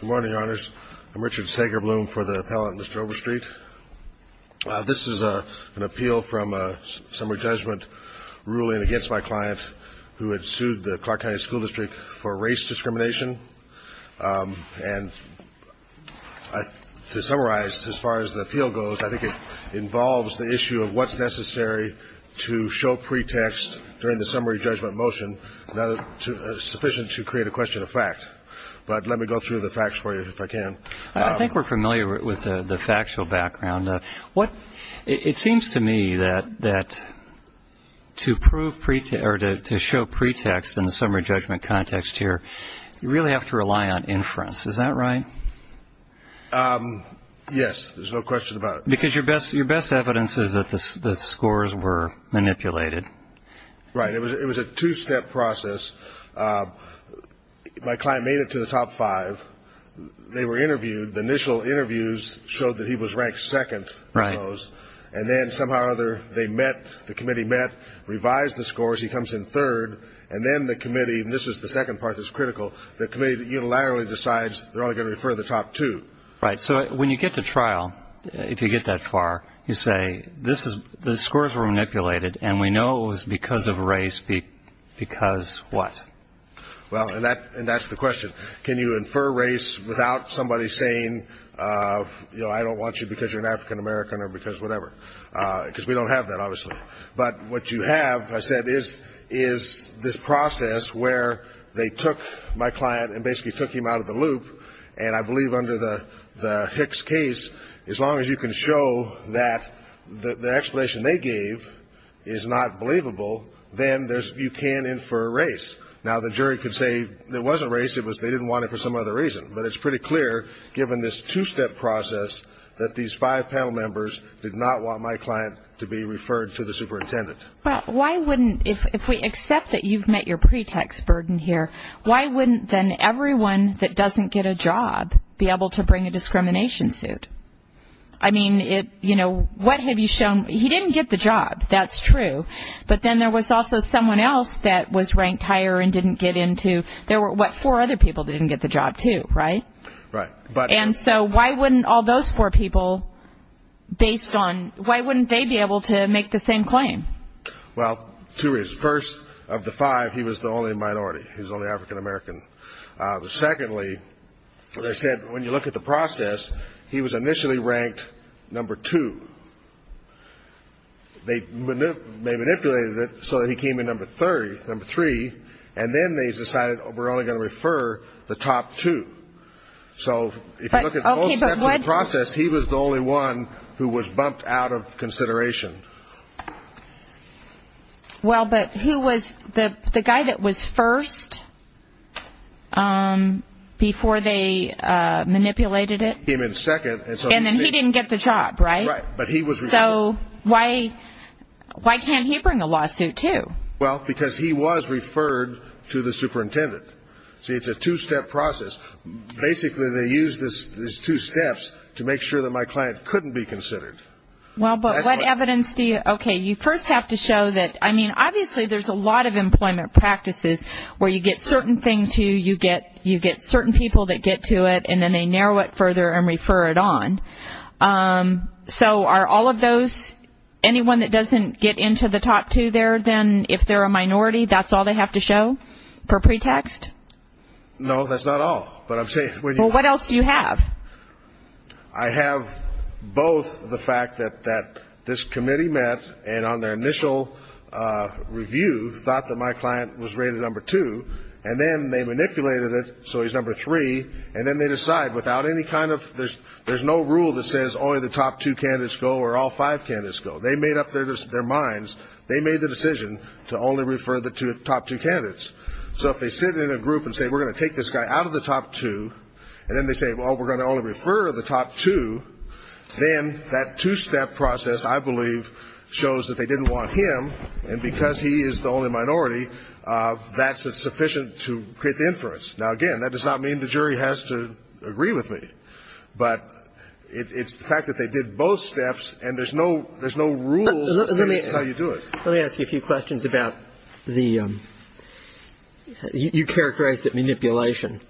Good morning, Your Honors. I'm Richard Sagerbloom for the appellant, Mr. Overstreet. This is an appeal from a summary judgment ruling against my client who had sued the Clark County School District for race discrimination. And to summarize, as far as the appeal goes, I think it involves the issue of what's necessary to show pretext during the summary judgment motion sufficient to create a question of fact. But let me go through the facts for you, if I can. I think we're familiar with the factual background. It seems to me that to show pretext in the summary judgment context here, you really have to rely on inference. Is that right? Yes, there's no question about it. Because your best evidence is that the scores were manipulated. Right. It was a two-step process. My client made it to the top five. They were interviewed. The initial interviews showed that he was ranked second in those. And then somehow or other, they met, the committee met, revised the scores. He comes in third. And then the committee, and this is the second part that's critical, the committee unilaterally decides they're only going to refer the top two. Right. So when you get to trial, if you get that far, you say the scores were manipulated, and we know it was because of race, because what? Well, and that's the question. Can you infer race without somebody saying, you know, I don't want you because you're an African-American or because whatever? Because we don't have that, obviously. But what you have, as I said, is this process where they took my client and basically took him out of the loop. And I believe under the Hicks case, as long as you can show that the explanation they gave is not believable, then you can infer race. Now, the jury could say it wasn't race, it was they didn't want it for some other reason. But it's pretty clear, given this two-step process, that these five panel members did not want my client to be referred to the superintendent. Well, why wouldn't, if we accept that you've met your pretext burden here, why wouldn't then everyone that doesn't get a job be able to bring a discrimination suit? I mean, you know, what have you shown? He didn't get the job. That's true. But then there was also someone else that was ranked higher and didn't get into. There were, what, four other people that didn't get the job too, right? Right. And so why wouldn't all those four people, based on, why wouldn't they be able to make the same claim? Well, two reasons. First, of the five, he was the only minority. He was the only African-American. Secondly, as I said, when you look at the process, he was initially ranked number two. They manipulated it so that he came in number three, and then they decided we're only going to refer the top two. So if you look at both steps of the process, he was the only one who was bumped out of consideration. Well, but who was the guy that was first before they manipulated it? He came in second. And then he didn't get the job, right? Right. So why can't he bring a lawsuit too? Well, because he was referred to the superintendent. See, it's a two-step process. Basically, they used these two steps to make sure that my client couldn't be considered. Well, but what evidence do you ‑‑ okay, you first have to show that, I mean, obviously there's a lot of employment practices where you get certain things to you, you get certain people that get to it, and then they narrow it further and refer it on. So are all of those, anyone that doesn't get into the top two there, then if they're a minority, that's all they have to show for pretext? No, that's not all. Well, what else do you have? I have both the fact that this committee met and on their initial review thought that my client was rated number two, and then they manipulated it so he's number three, and then they decide without any kind of ‑‑ there's no rule that says only the top two candidates go or all five candidates go. They made up their minds. They made the decision to only refer the top two candidates. So if they sit in a group and say we're going to take this guy out of the top two, and then they say, well, we're going to only refer the top two, then that two‑step process, I believe, shows that they didn't want him, and because he is the only minority, that's sufficient to create the inference. Now, again, that does not mean the jury has to agree with me, but it's the fact that they did both steps and there's no rules that say this is how you do it. Let me ask you a few questions about the ‑‑ you characterized it manipulation.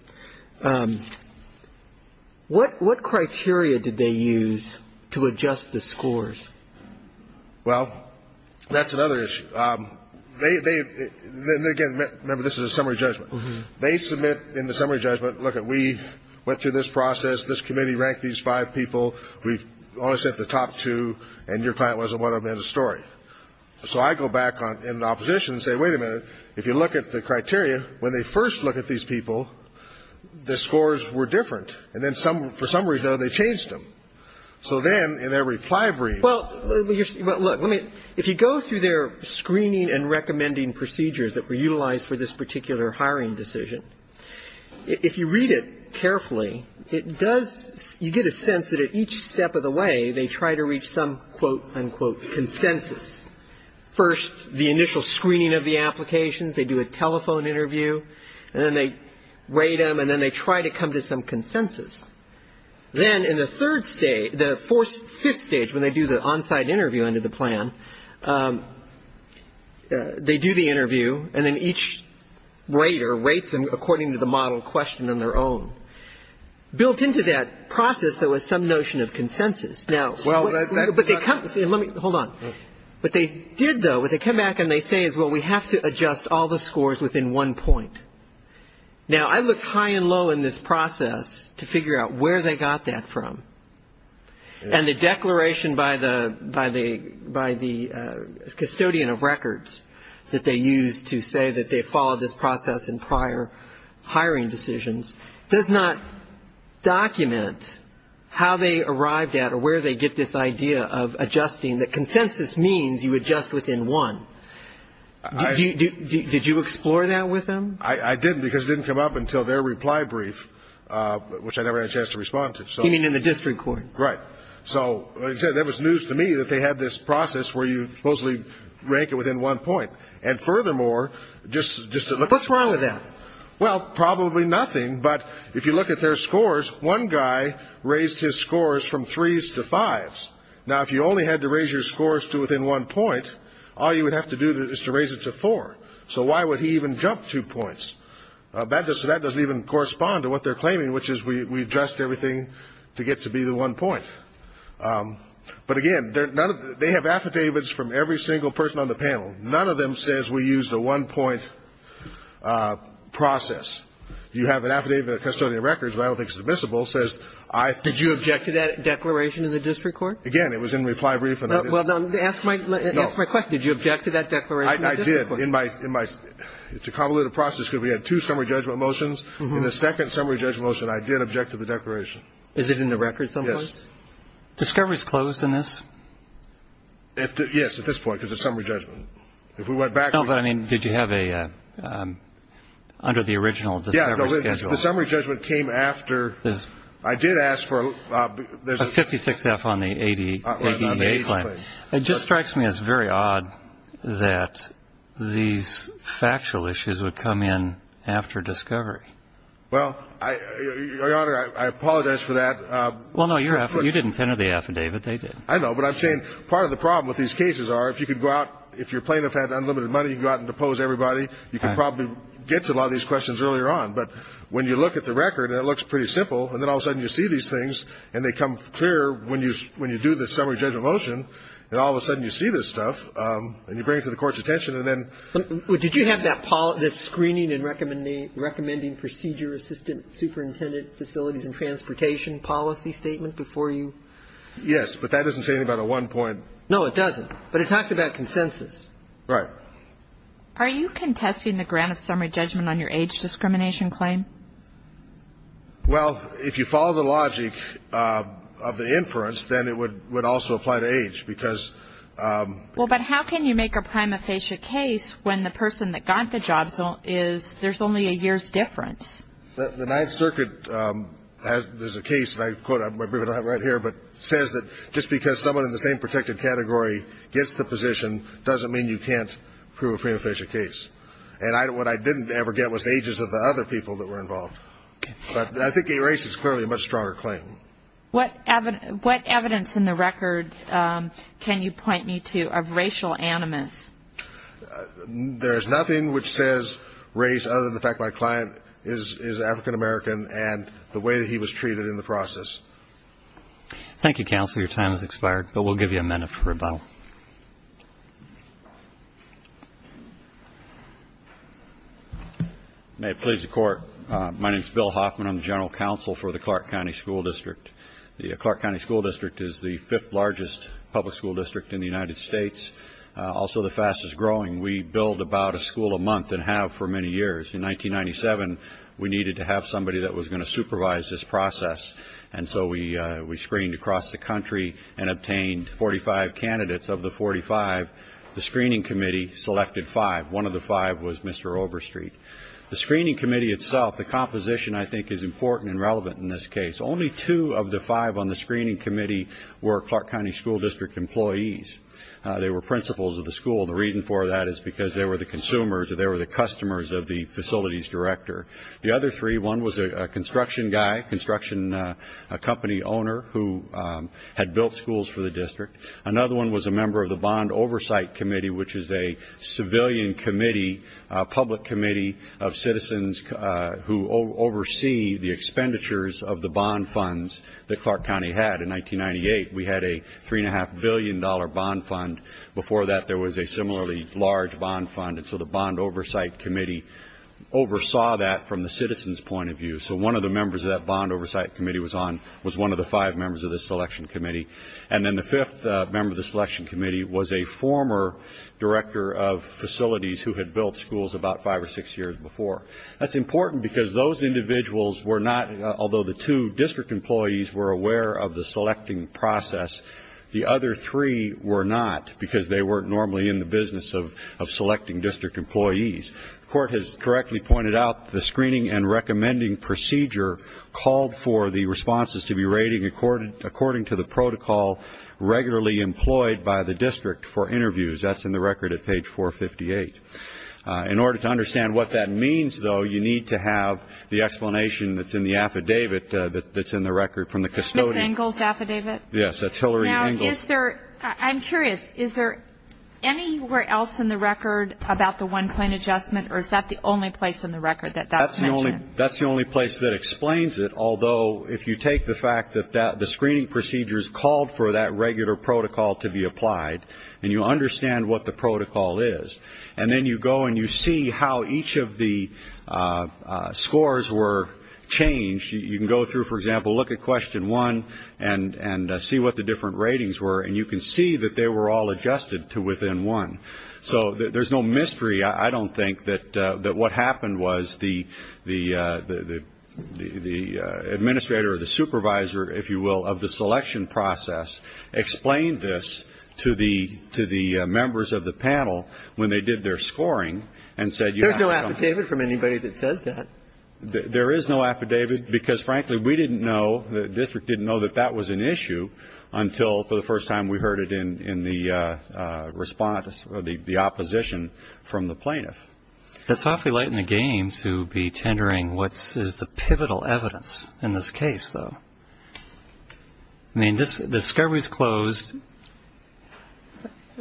What criteria did they use to adjust the scores? Well, that's another issue. They ‑‑ again, remember, this is a summary judgment. They submit in the summary judgment, lookit, we went through this process, this committee ranked these five people, we only sent the top two, and your client wasn't one of them in the story. So I go back in the opposition and say, wait a minute, if you look at the criteria, when they first look at these people, the scores were different, and then for some reason they changed them. So then in their reply brief ‑‑ Well, look, if you go through their screening and recommending procedures that were utilized for this particular hiring decision, if you read it carefully, it does ‑‑ you get a sense that at each step of the way, they try to reach some, quote, unquote, consensus. First, the initial screening of the applications, they do a telephone interview, and then they rate them, and then they try to come to some consensus. Then in the third stage, the fifth stage, when they do the on‑site interview under the plan, they do the interview, and then each rater rates them according to the model questioned on their own. Built into that process, there was some notion of consensus. Hold on. What they did, though, what they come back and they say is, well, we have to adjust all the scores within one point. Now, I looked high and low in this process to figure out where they got that from, and the declaration by the custodian of records that they used to say that they followed this process in prior hiring decisions does not document how they arrived at or where they get this idea of adjusting, that consensus means you adjust within one. Did you explore that with them? I didn't, because it didn't come up until their reply brief, which I never had a chance to respond to. You mean in the district court. Right. So, like I said, that was news to me that they had this process where you supposedly rank it within one point. And furthermore, just to look at the score. What's wrong with that? Well, probably nothing. But if you look at their scores, one guy raised his scores from threes to fives. Now, if you only had to raise your scores to within one point, all you would have to do is to raise it to four. So why would he even jump two points? That doesn't even correspond to what they're claiming, which is we addressed everything to get to be the one point. But, again, they have affidavits from every single person on the panel. None of them says we used a one-point process. You have an affidavit of custodian records, but I don't think it's admissible, says I ---- Did you object to that declaration in the district court? Again, it was in reply brief. Well, ask my question. Did you object to that declaration in the district court? I did. In my ---- it's a convoluted process because we had two summary judgment motions. In the second summary judgment motion, I did object to the declaration. Is it in the record someplace? Yes. Discovery is closed in this? Yes, at this point, because it's summary judgment. If we went back ---- No, but, I mean, did you have a ---- under the original discovery schedule? Yes. The summary judgment came after. I did ask for a ---- A 56-F on the ADEA claim. It just strikes me as very odd that these factual issues would come in after discovery. Well, Your Honor, I apologize for that. Well, no, you didn't send her the affidavit. They did. I know. But I'm saying part of the problem with these cases are if you could go out, if your plaintiff had unlimited money, you could go out and depose everybody. You could probably get to a lot of these questions earlier on. But when you look at the record and it looks pretty simple, and then all of a sudden you see these things and they come clear when you do the summary judgment motion, and all of a sudden you see this stuff and you bring it to the Court's attention and then ---- Did you have that screening and recommending procedure assistant superintendent facilities and transportation policy statement before you ---- Yes. But that doesn't say anything about a one-point ---- No, it doesn't. But it talks about consensus. Right. Are you contesting the grant of summary judgment on your age discrimination claim? Well, if you follow the logic of the inference, then it would also apply to age because ---- Well, but how can you make a prima facie case when the person that got the job is ---- there's only a year's difference. The Ninth Circuit has ---- there's a case, and I quote it right here, but it says that just because someone in the same protected category gets the position doesn't mean you can't prove a prima facie case. And what I didn't ever get was the ages of the other people that were involved. But I think gay race is clearly a much stronger claim. What evidence in the record can you point me to of racial animus? There is nothing which says race other than the fact my client is African American and the way that he was treated in the process. Thank you, Counselor. Your time has expired, but we'll give you a minute for rebuttal. May it please the Court. My name is Bill Hoffman. I'm the General Counsel for the Clark County School District. The Clark County School District is the fifth largest public school district in the United States, also the fastest growing. We build about a school a month and have for many years. In 1997, we needed to have somebody that was going to supervise this process, and so we screened across the country and obtained 45 candidates. Of the 45, the screening committee selected five. One of the five was Mr. Overstreet. The screening committee itself, the composition, I think, is important and relevant in this case. Only two of the five on the screening committee were Clark County School District employees. They were principals of the school. The reason for that is because they were the consumers or they were the customers of the facilities director. The other three, one was a construction guy, construction company owner, who had built schools for the district. Another one was a member of the Bond Oversight Committee, which is a civilian committee, a public committee of citizens who oversee the expenditures of the bond funds that Clark County had in 1998. We had a $3.5 billion bond fund. Before that, there was a similarly large bond fund, and so the Bond Oversight Committee oversaw that from the citizens' point of view. So one of the members of that Bond Oversight Committee was on, was one of the five members of the selection committee. And then the fifth member of the selection committee was a former director of facilities who had built schools about five or six years before. That's important because those individuals were not, although the two district employees were aware of the selecting process, the other three were not because they weren't normally in the business of selecting district employees. The court has correctly pointed out the screening and recommending procedure called for the responses to be rated according to the protocol regularly employed by the district for interviews. That's in the record at page 458. In order to understand what that means, though, you need to have the explanation that's in the affidavit that's in the record from the custodian. Ms. Engel's affidavit? Yes, that's Hillary Engel's. Now, is there, I'm curious, is there anywhere else in the record about the one-point adjustment or is that the only place in the record that that's mentioned? That's the only place that explains it, although if you take the fact that the screening procedures called for that regular protocol to be applied and you understand what the protocol is and then you go and you see how each of the scores were changed, you can go through, for example, look at question one and see what the different ratings were and you can see that they were all adjusted to within one. So there's no mystery, I don't think, that what happened was the administrator or the supervisor, if you will, of the selection process explained this to the members of the panel when they did their scoring and said you have to There's no affidavit from anybody that says that. There is no affidavit because, frankly, we didn't know, the district didn't know that that was an issue until for the first time we heard it in the response, the opposition from the plaintiff. It's awfully late in the game to be tendering what is the pivotal evidence in this case, though.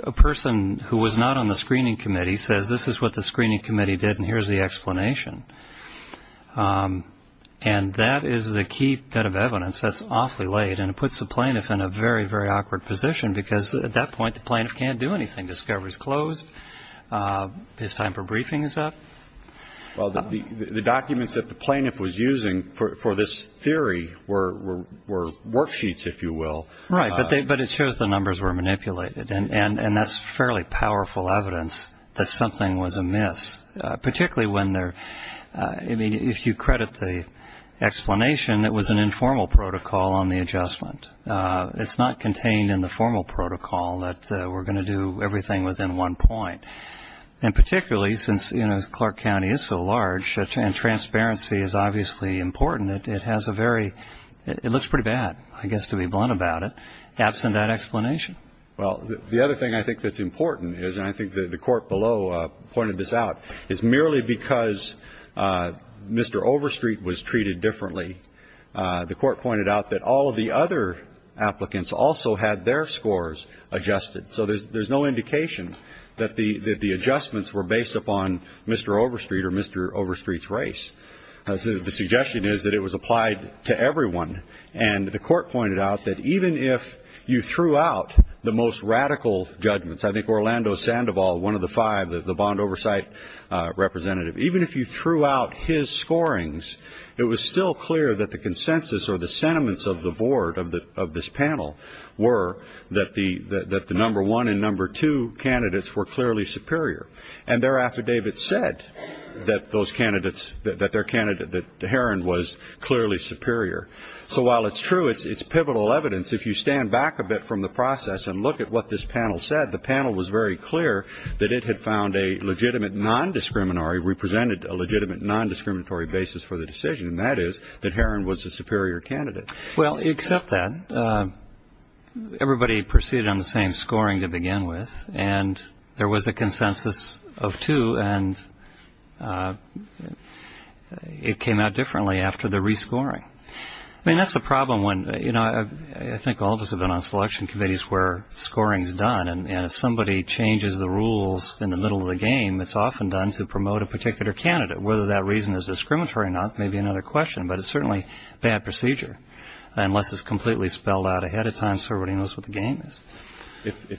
A person who was not on the screening committee says this is what the screening committee did and here's the explanation, and that is the key bit of evidence that's awfully late and it puts the plaintiff in a very, very awkward position because at that point the plaintiff can't do anything. Discovery is closed. His time for briefing is up. Well, the documents that the plaintiff was using for this theory were worksheets, if you will. Right, but it shows the numbers were manipulated, and that's fairly powerful evidence that something was amiss, particularly when they're, I mean, if you credit the explanation, it was an informal protocol on the adjustment. It's not contained in the formal protocol that we're going to do everything within one point, and particularly since, you know, Clark County is so large and transparency is obviously important, it looks pretty bad, I guess, to be blunt about it, absent that explanation. Well, the other thing I think that's important is, and I think the Court below pointed this out, is merely because Mr. Overstreet was treated differently, the Court pointed out that all of the other applicants also had their scores adjusted. So there's no indication that the adjustments were based upon Mr. Overstreet or Mr. Overstreet's race. The suggestion is that it was applied to everyone, and the Court pointed out that even if you threw out the most radical judgments, I think Orlando Sandoval, one of the five, the bond oversight representative, even if you threw out his scorings, it was still clear that the consensus or the sentiments of the Board of this panel were that the number one and number two candidates were clearly superior. And their affidavit said that those candidates, that their candidate, that Heron was clearly superior. So while it's true it's pivotal evidence, if you stand back a bit from the process and look at what this panel said, the panel was very clear that it had found a legitimate non-discriminatory, represented a legitimate non-discriminatory basis for the decision, and that is that Heron was the superior candidate. Well, except that, everybody proceeded on the same scoring to begin with, and there was a consensus of two, and it came out differently after the rescoring. I mean, that's the problem when, you know, I think all of us have been on selection committees where scoring is done, and if somebody changes the rules in the middle of the game, it's often done to promote a particular candidate. Whether that reason is discriminatory or not may be another question, but it's certainly bad procedure, unless it's completely spelled out ahead of time so everybody knows what the game is.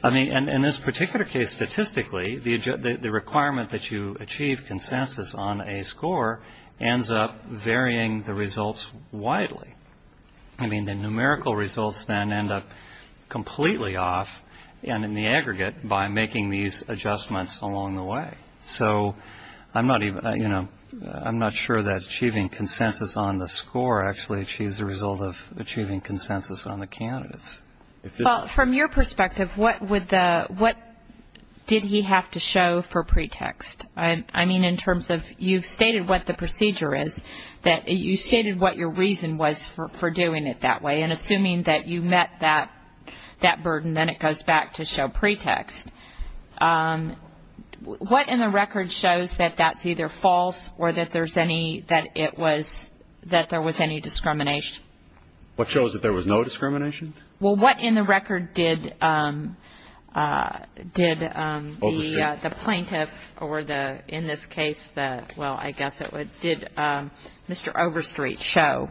I mean, in this particular case, statistically, the requirement that you achieve consensus on a score ends up varying the results widely. I mean, the numerical results then end up completely off and in the aggregate by making these adjustments along the way. So I'm not even, you know, I'm not sure that achieving consensus on the score actually achieves the result of achieving consensus on the candidates. Well, from your perspective, what did he have to show for pretext? I mean, in terms of you've stated what the procedure is, that you stated what your reason was for doing it that way, and assuming that you met that burden, then it goes back to show pretext. What in the record shows that that's either false or that there was any discrimination? What shows that there was no discrimination? Well, what in the record did the plaintiff, or in this case, well, I guess it would, did Mr. Overstreet show?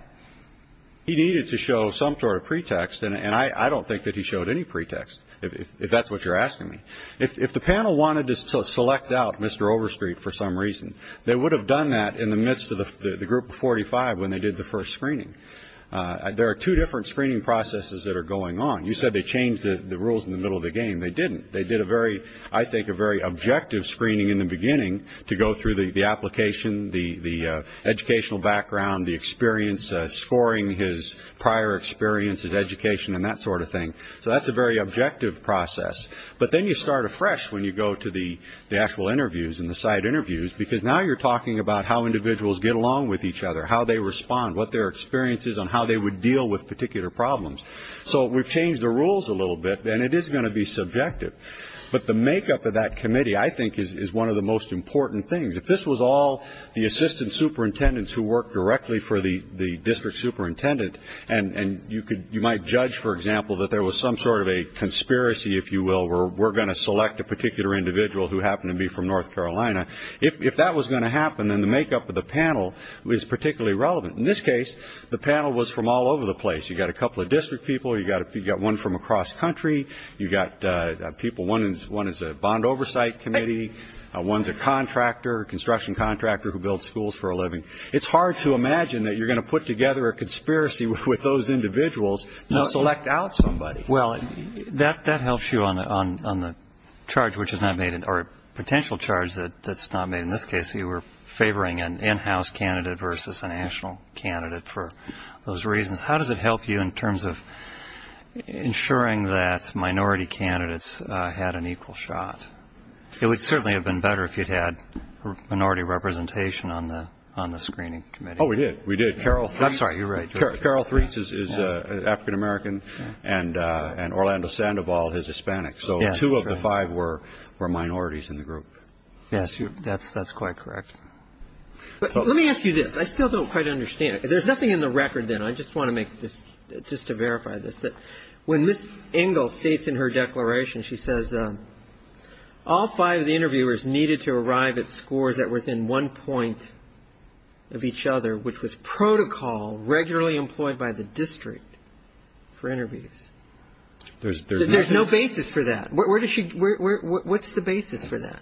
He needed to show some sort of pretext, and I don't think that he showed any pretext, if that's what you're asking me. If the panel wanted to select out Mr. Overstreet for some reason, they would have done that in the midst of the group of 45 when they did the first screening. There are two different screening processes that are going on. You said they changed the rules in the middle of the game. They didn't. They did a very, I think, a very objective screening in the beginning to go through the application, the educational background, the experience, scoring his prior experience, his education, and that sort of thing. So that's a very objective process. But then you start afresh when you go to the actual interviews and the side interviews, because now you're talking about how individuals get along with each other, how they respond, what their experience is on how they would deal with particular problems. So we've changed the rules a little bit, and it is going to be subjective. But the makeup of that committee, I think, is one of the most important things. If this was all the assistant superintendents who worked directly for the district superintendent, and you might judge, for example, that there was some sort of a conspiracy, if you will, where we're going to select a particular individual who happened to be from North Carolina, if that was going to happen, then the makeup of the panel is particularly relevant. In this case, the panel was from all over the place. You've got a couple of district people. You've got one from across country. You've got people, one is a bond oversight committee. One is a contractor, a construction contractor who builds schools for a living. It's hard to imagine that you're going to put together a conspiracy with those individuals to select out somebody. Well, that helps you on the charge which is not made, or a potential charge that's not made. In this case, you were favoring an in-house candidate versus a national candidate for those reasons. How does it help you in terms of ensuring that minority candidates had an equal shot? It would certainly have been better if you'd had minority representation on the screening committee. Oh, we did. We did. Carol Threese. I'm sorry, you're right. Carol Threese is African-American, and Orlando Sandoval is Hispanic. So two of the five were minorities in the group. Yes, that's quite correct. Let me ask you this. I still don't quite understand. There's nothing in the record then. I just want to make this, just to verify this, that when Ms. Engel states in her declaration, she says all five of the interviewers needed to arrive at scores that were within one point of each other, which was protocol regularly employed by the district for interviews. There's no basis for that. Where does she – what's the basis for that?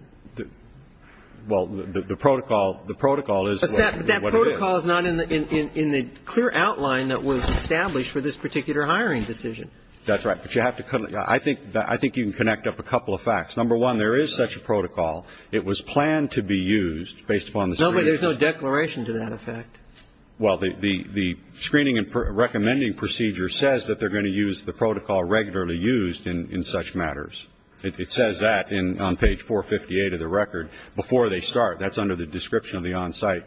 Well, the protocol is what it is. But that protocol is not in the clear outline that was established for this particular hiring decision. That's right. But you have to – I think you can connect up a couple of facts. Number one, there is such a protocol. It was planned to be used based upon the screening. No, but there's no declaration to that effect. Well, the screening and recommending procedure says that they're going to use the protocol regularly used in such matters. It says that on page 458 of the record before they start. That's under the description of the on-site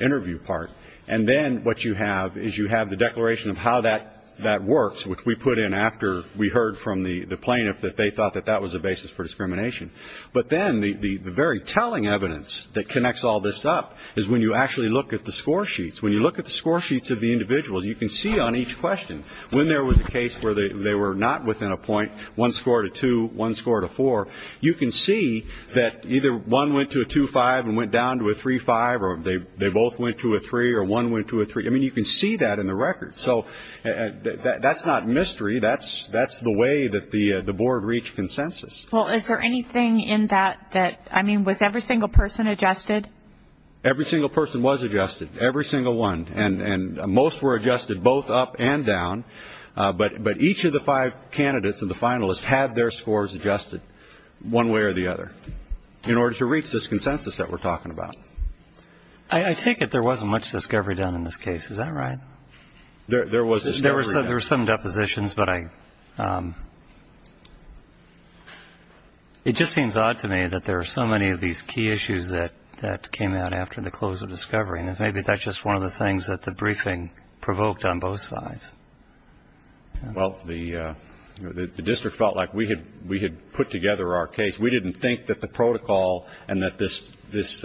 interview part. And then what you have is you have the declaration of how that works, which we put in after we heard from the plaintiff that they thought that that was a basis for discrimination. But then the very telling evidence that connects all this up is when you actually look at the score sheets. You can see on each question, when there was a case where they were not within a point, one score to two, one score to four, you can see that either one went to a 2.5 and went down to a 3.5, or they both went to a 3, or one went to a 3. I mean, you can see that in the record. So that's not mystery. That's the way that the board reached consensus. Well, is there anything in that that – I mean, was every single person adjusted? Every single person was adjusted, every single one. And most were adjusted both up and down, but each of the five candidates and the finalists had their scores adjusted one way or the other in order to reach this consensus that we're talking about. I take it there wasn't much discovery done in this case. Is that right? There was discovery done. There were some depositions, but I – it just seems odd to me that there are so many of these key issues that came out after the close of discovery. And maybe that's just one of the things that the briefing provoked on both sides. Well, the district felt like we had put together our case. We didn't think that the protocol and that the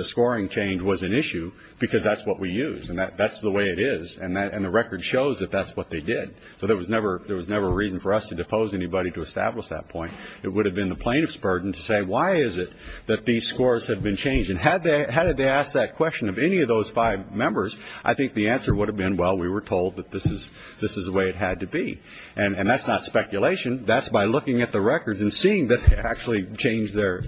scoring change was an issue because that's what we used, and that's the way it is, and the record shows that that's what they did. So there was never a reason for us to depose anybody to establish that point. It would have been the plaintiff's burden to say, why is it that these scores have been changed? And had they asked that question of any of those five members, I think the answer would have been, well, we were told that this is the way it had to be. And that's not speculation. That's by looking at the records and seeing that they actually changed their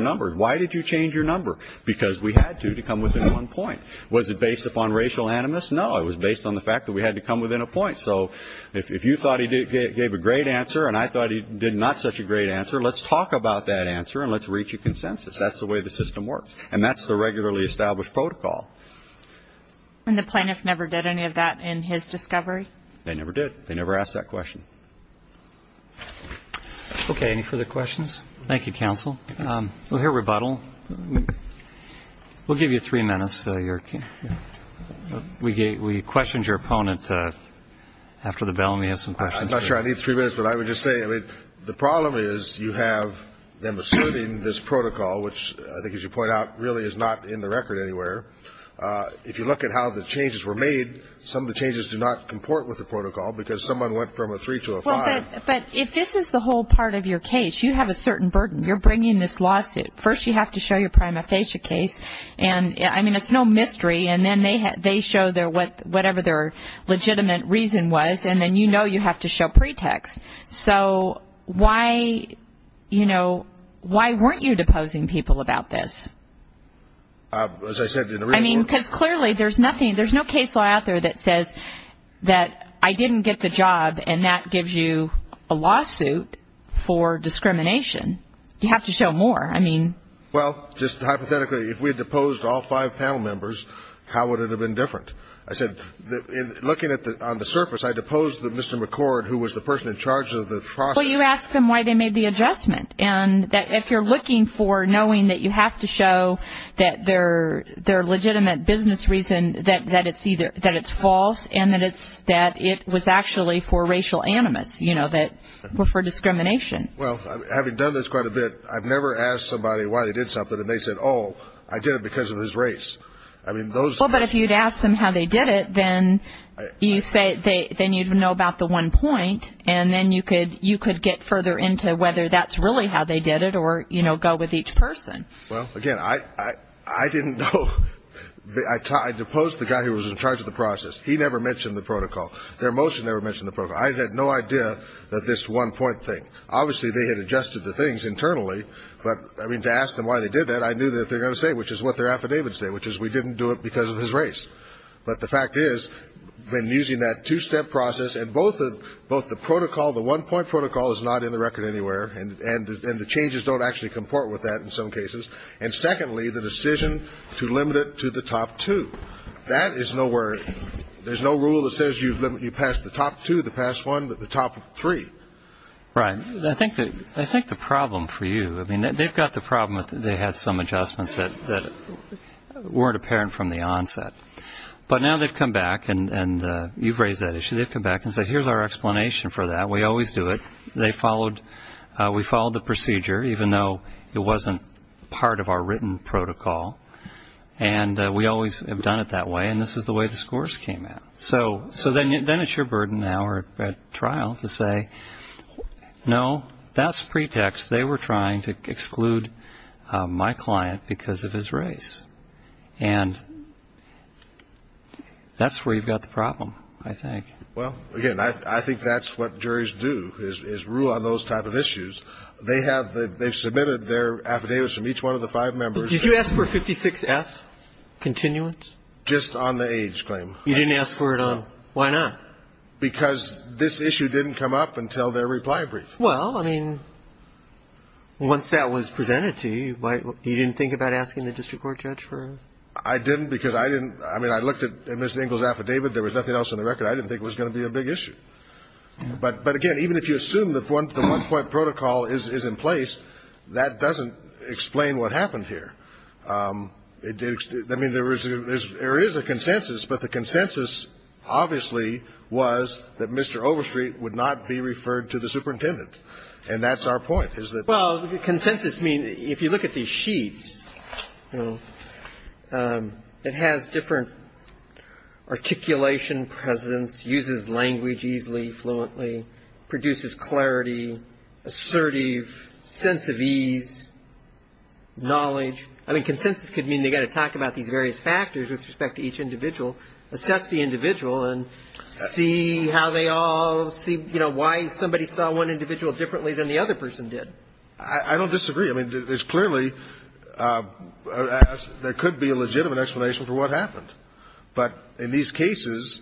numbers. Why did you change your number? Because we had to, to come within one point. Was it based upon racial animus? No, it was based on the fact that we had to come within a point. So if you thought he gave a great answer and I thought he did not such a great answer, let's talk about that answer and let's reach a consensus. That's the way the system works. And that's the regularly established protocol. And the plaintiff never did any of that in his discovery? They never did. They never asked that question. Okay. Any further questions? Thank you, counsel. We'll hear rebuttal. We'll give you three minutes. We questioned your opponent after the bell, and we have some questions. I'm not sure I need three minutes, but I would just say, I mean, the problem is you have them asserting this protocol, which I think as you point out really is not in the record anywhere. If you look at how the changes were made, some of the changes do not comport with the protocol because someone went from a 3 to a 5. But if this is the whole part of your case, you have a certain burden. You're bringing this lawsuit. First you have to show your prima facie case. And, I mean, it's no mystery. And then they show whatever their legitimate reason was, and then you know you have to show pretext. So why, you know, why weren't you deposing people about this? As I said in the report. I mean, because clearly there's nothing, there's no case law out there that says that I didn't get the job, and that gives you a lawsuit for discrimination. You have to show more. I mean. Well, just hypothetically, if we had deposed all five panel members, how would it have been different? I said, looking on the surface, I deposed Mr. McCord, who was the person in charge of the process. Well, you asked them why they made the adjustment. And if you're looking for knowing that you have to show that their legitimate business reason, that it's false and that it was actually for racial animus, you know, for discrimination. Well, having done this quite a bit, I've never asked somebody why they did something, and they said, oh, I did it because of his race. I mean, those. Well, but if you'd asked them how they did it, then you'd know about the one point, and then you could get further into whether that's really how they did it or, you know, go with each person. Well, again, I didn't know. I deposed the guy who was in charge of the process. He never mentioned the protocol. Their motion never mentioned the protocol. I had no idea that this one-point thing. Obviously, they had adjusted the things internally, but, I mean, to ask them why they did that, I knew that they were going to say, which is what their affidavit said, which is we didn't do it because of his race. But the fact is, when using that two-step process, and both the protocol, the one-point protocol, is not in the record anywhere, and the changes don't actually comport with that in some cases, and secondly, the decision to limit it to the top two, that is nowhere. There's no rule that says you pass the top two, the past one, the top three. Right. I think the problem for you, I mean, they've got the problem that they had some adjustments that weren't apparent from the onset. But now they've come back, and you've raised that issue. They've come back and said, here's our explanation for that. We always do it. We followed the procedure, even though it wasn't part of our written protocol, and we always have done it that way, and this is the way the scores came out. So then it's your burden now at trial to say, no, that's pretext. They were trying to exclude my client because of his race. And that's where you've got the problem, I think. Well, again, I think that's what juries do, is rule on those type of issues. They have submitted their affidavits from each one of the five members. Did you ask for 56F continuance? Just on the age claim. You didn't ask for it on why not? Because this issue didn't come up until their reply brief. Well, I mean, once that was presented to you, you didn't think about asking the district court judge for it? I didn't because I didn't. I mean, I looked at Ms. Engel's affidavit. There was nothing else on the record. I didn't think it was going to be a big issue. But, again, even if you assume that the one-point protocol is in place, that doesn't explain what happened here. I mean, there is a consensus, but the consensus, obviously, was that Mr. Overstreet would not be referred to the superintendent. And that's our point, is that the one- Well, the consensus means, if you look at these sheets, it has different articulation presence, uses language easily, fluently, produces clarity, assertive, sense of ease, knowledge, I mean, consensus could mean they've got to talk about these various factors with respect to each individual, assess the individual, and see how they all see, you know, why somebody saw one individual differently than the other person did. I don't disagree. I mean, it's clearly there could be a legitimate explanation for what happened. But in these cases,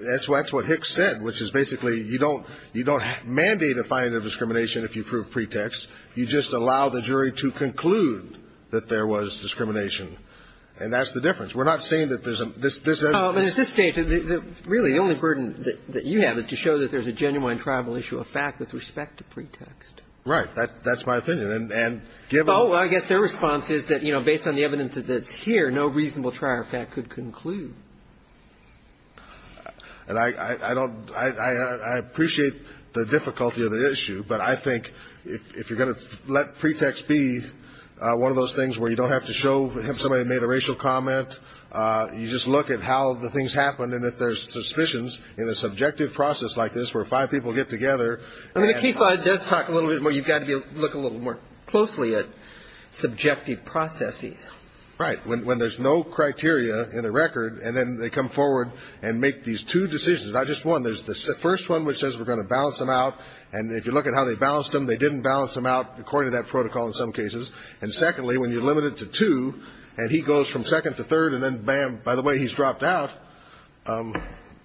that's what Hicks said, which is basically you don't mandate a finding of discrimination if you prove pretext. You just allow the jury to conclude that there was discrimination. And that's the difference. We're not saying that there's a – there's a- But at this stage, really, the only burden that you have is to show that there's a genuine tribal issue of fact with respect to pretext. Right. That's my opinion. And given- Well, I guess their response is that, you know, based on the evidence that's here, no reasonable trial of fact could conclude. And I don't – I appreciate the difficulty of the issue, but I think if you're going to let pretext be one of those things where you don't have to show somebody made a racial comment, you just look at how the things happen, and if there's suspicions in a subjective process like this where five people get together- I mean, the case law does talk a little bit more. You've got to be able to look a little more closely at subjective processes. Right. When there's no criteria in the record, and then they come forward and make these two decisions, not just one. There's the first one, which says we're going to balance them out, and if you look at how they balanced them, they didn't balance them out according to that protocol in some cases. And secondly, when you limit it to two and he goes from second to third and then, bam, by the way, he's dropped out-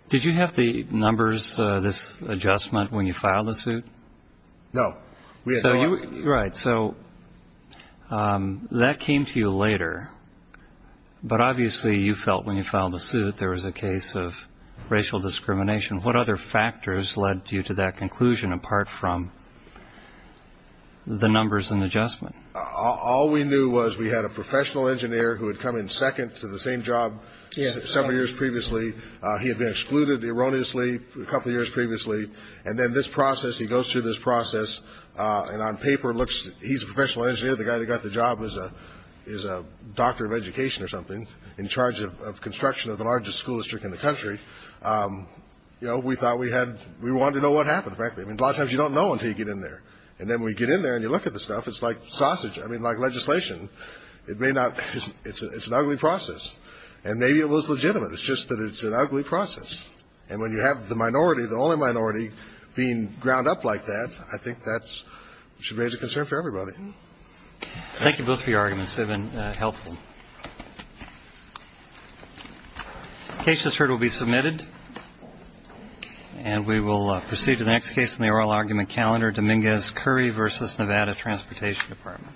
Did you have the numbers, this adjustment, when you filed the suit? No. Right. So that came to you later, but obviously you felt when you filed the suit there was a case of racial discrimination. What other factors led you to that conclusion apart from the numbers and adjustment? All we knew was we had a professional engineer who had come in second to the same job several years previously. He had been excluded erroneously a couple of years previously. And then this process, he goes through this process, and on paper looks-he's a professional engineer. The guy that got the job is a doctor of education or something in charge of construction of the largest school district in the country. We thought we had-we wanted to know what happened, frankly. I mean, a lot of times you don't know until you get in there. And then when you get in there and you look at the stuff, it's like sausage. I mean, like legislation. It may not-it's an ugly process. And maybe it was legitimate. It's just that it's an ugly process. And when you have the minority, the only minority, being ground up like that, I think that should raise a concern for everybody. Thank you both for your arguments. They've been helpful. The case that's heard will be submitted. And we will proceed to the next case in the oral argument calendar, Dominguez-Curry v. Nevada Transportation Department. Thank you.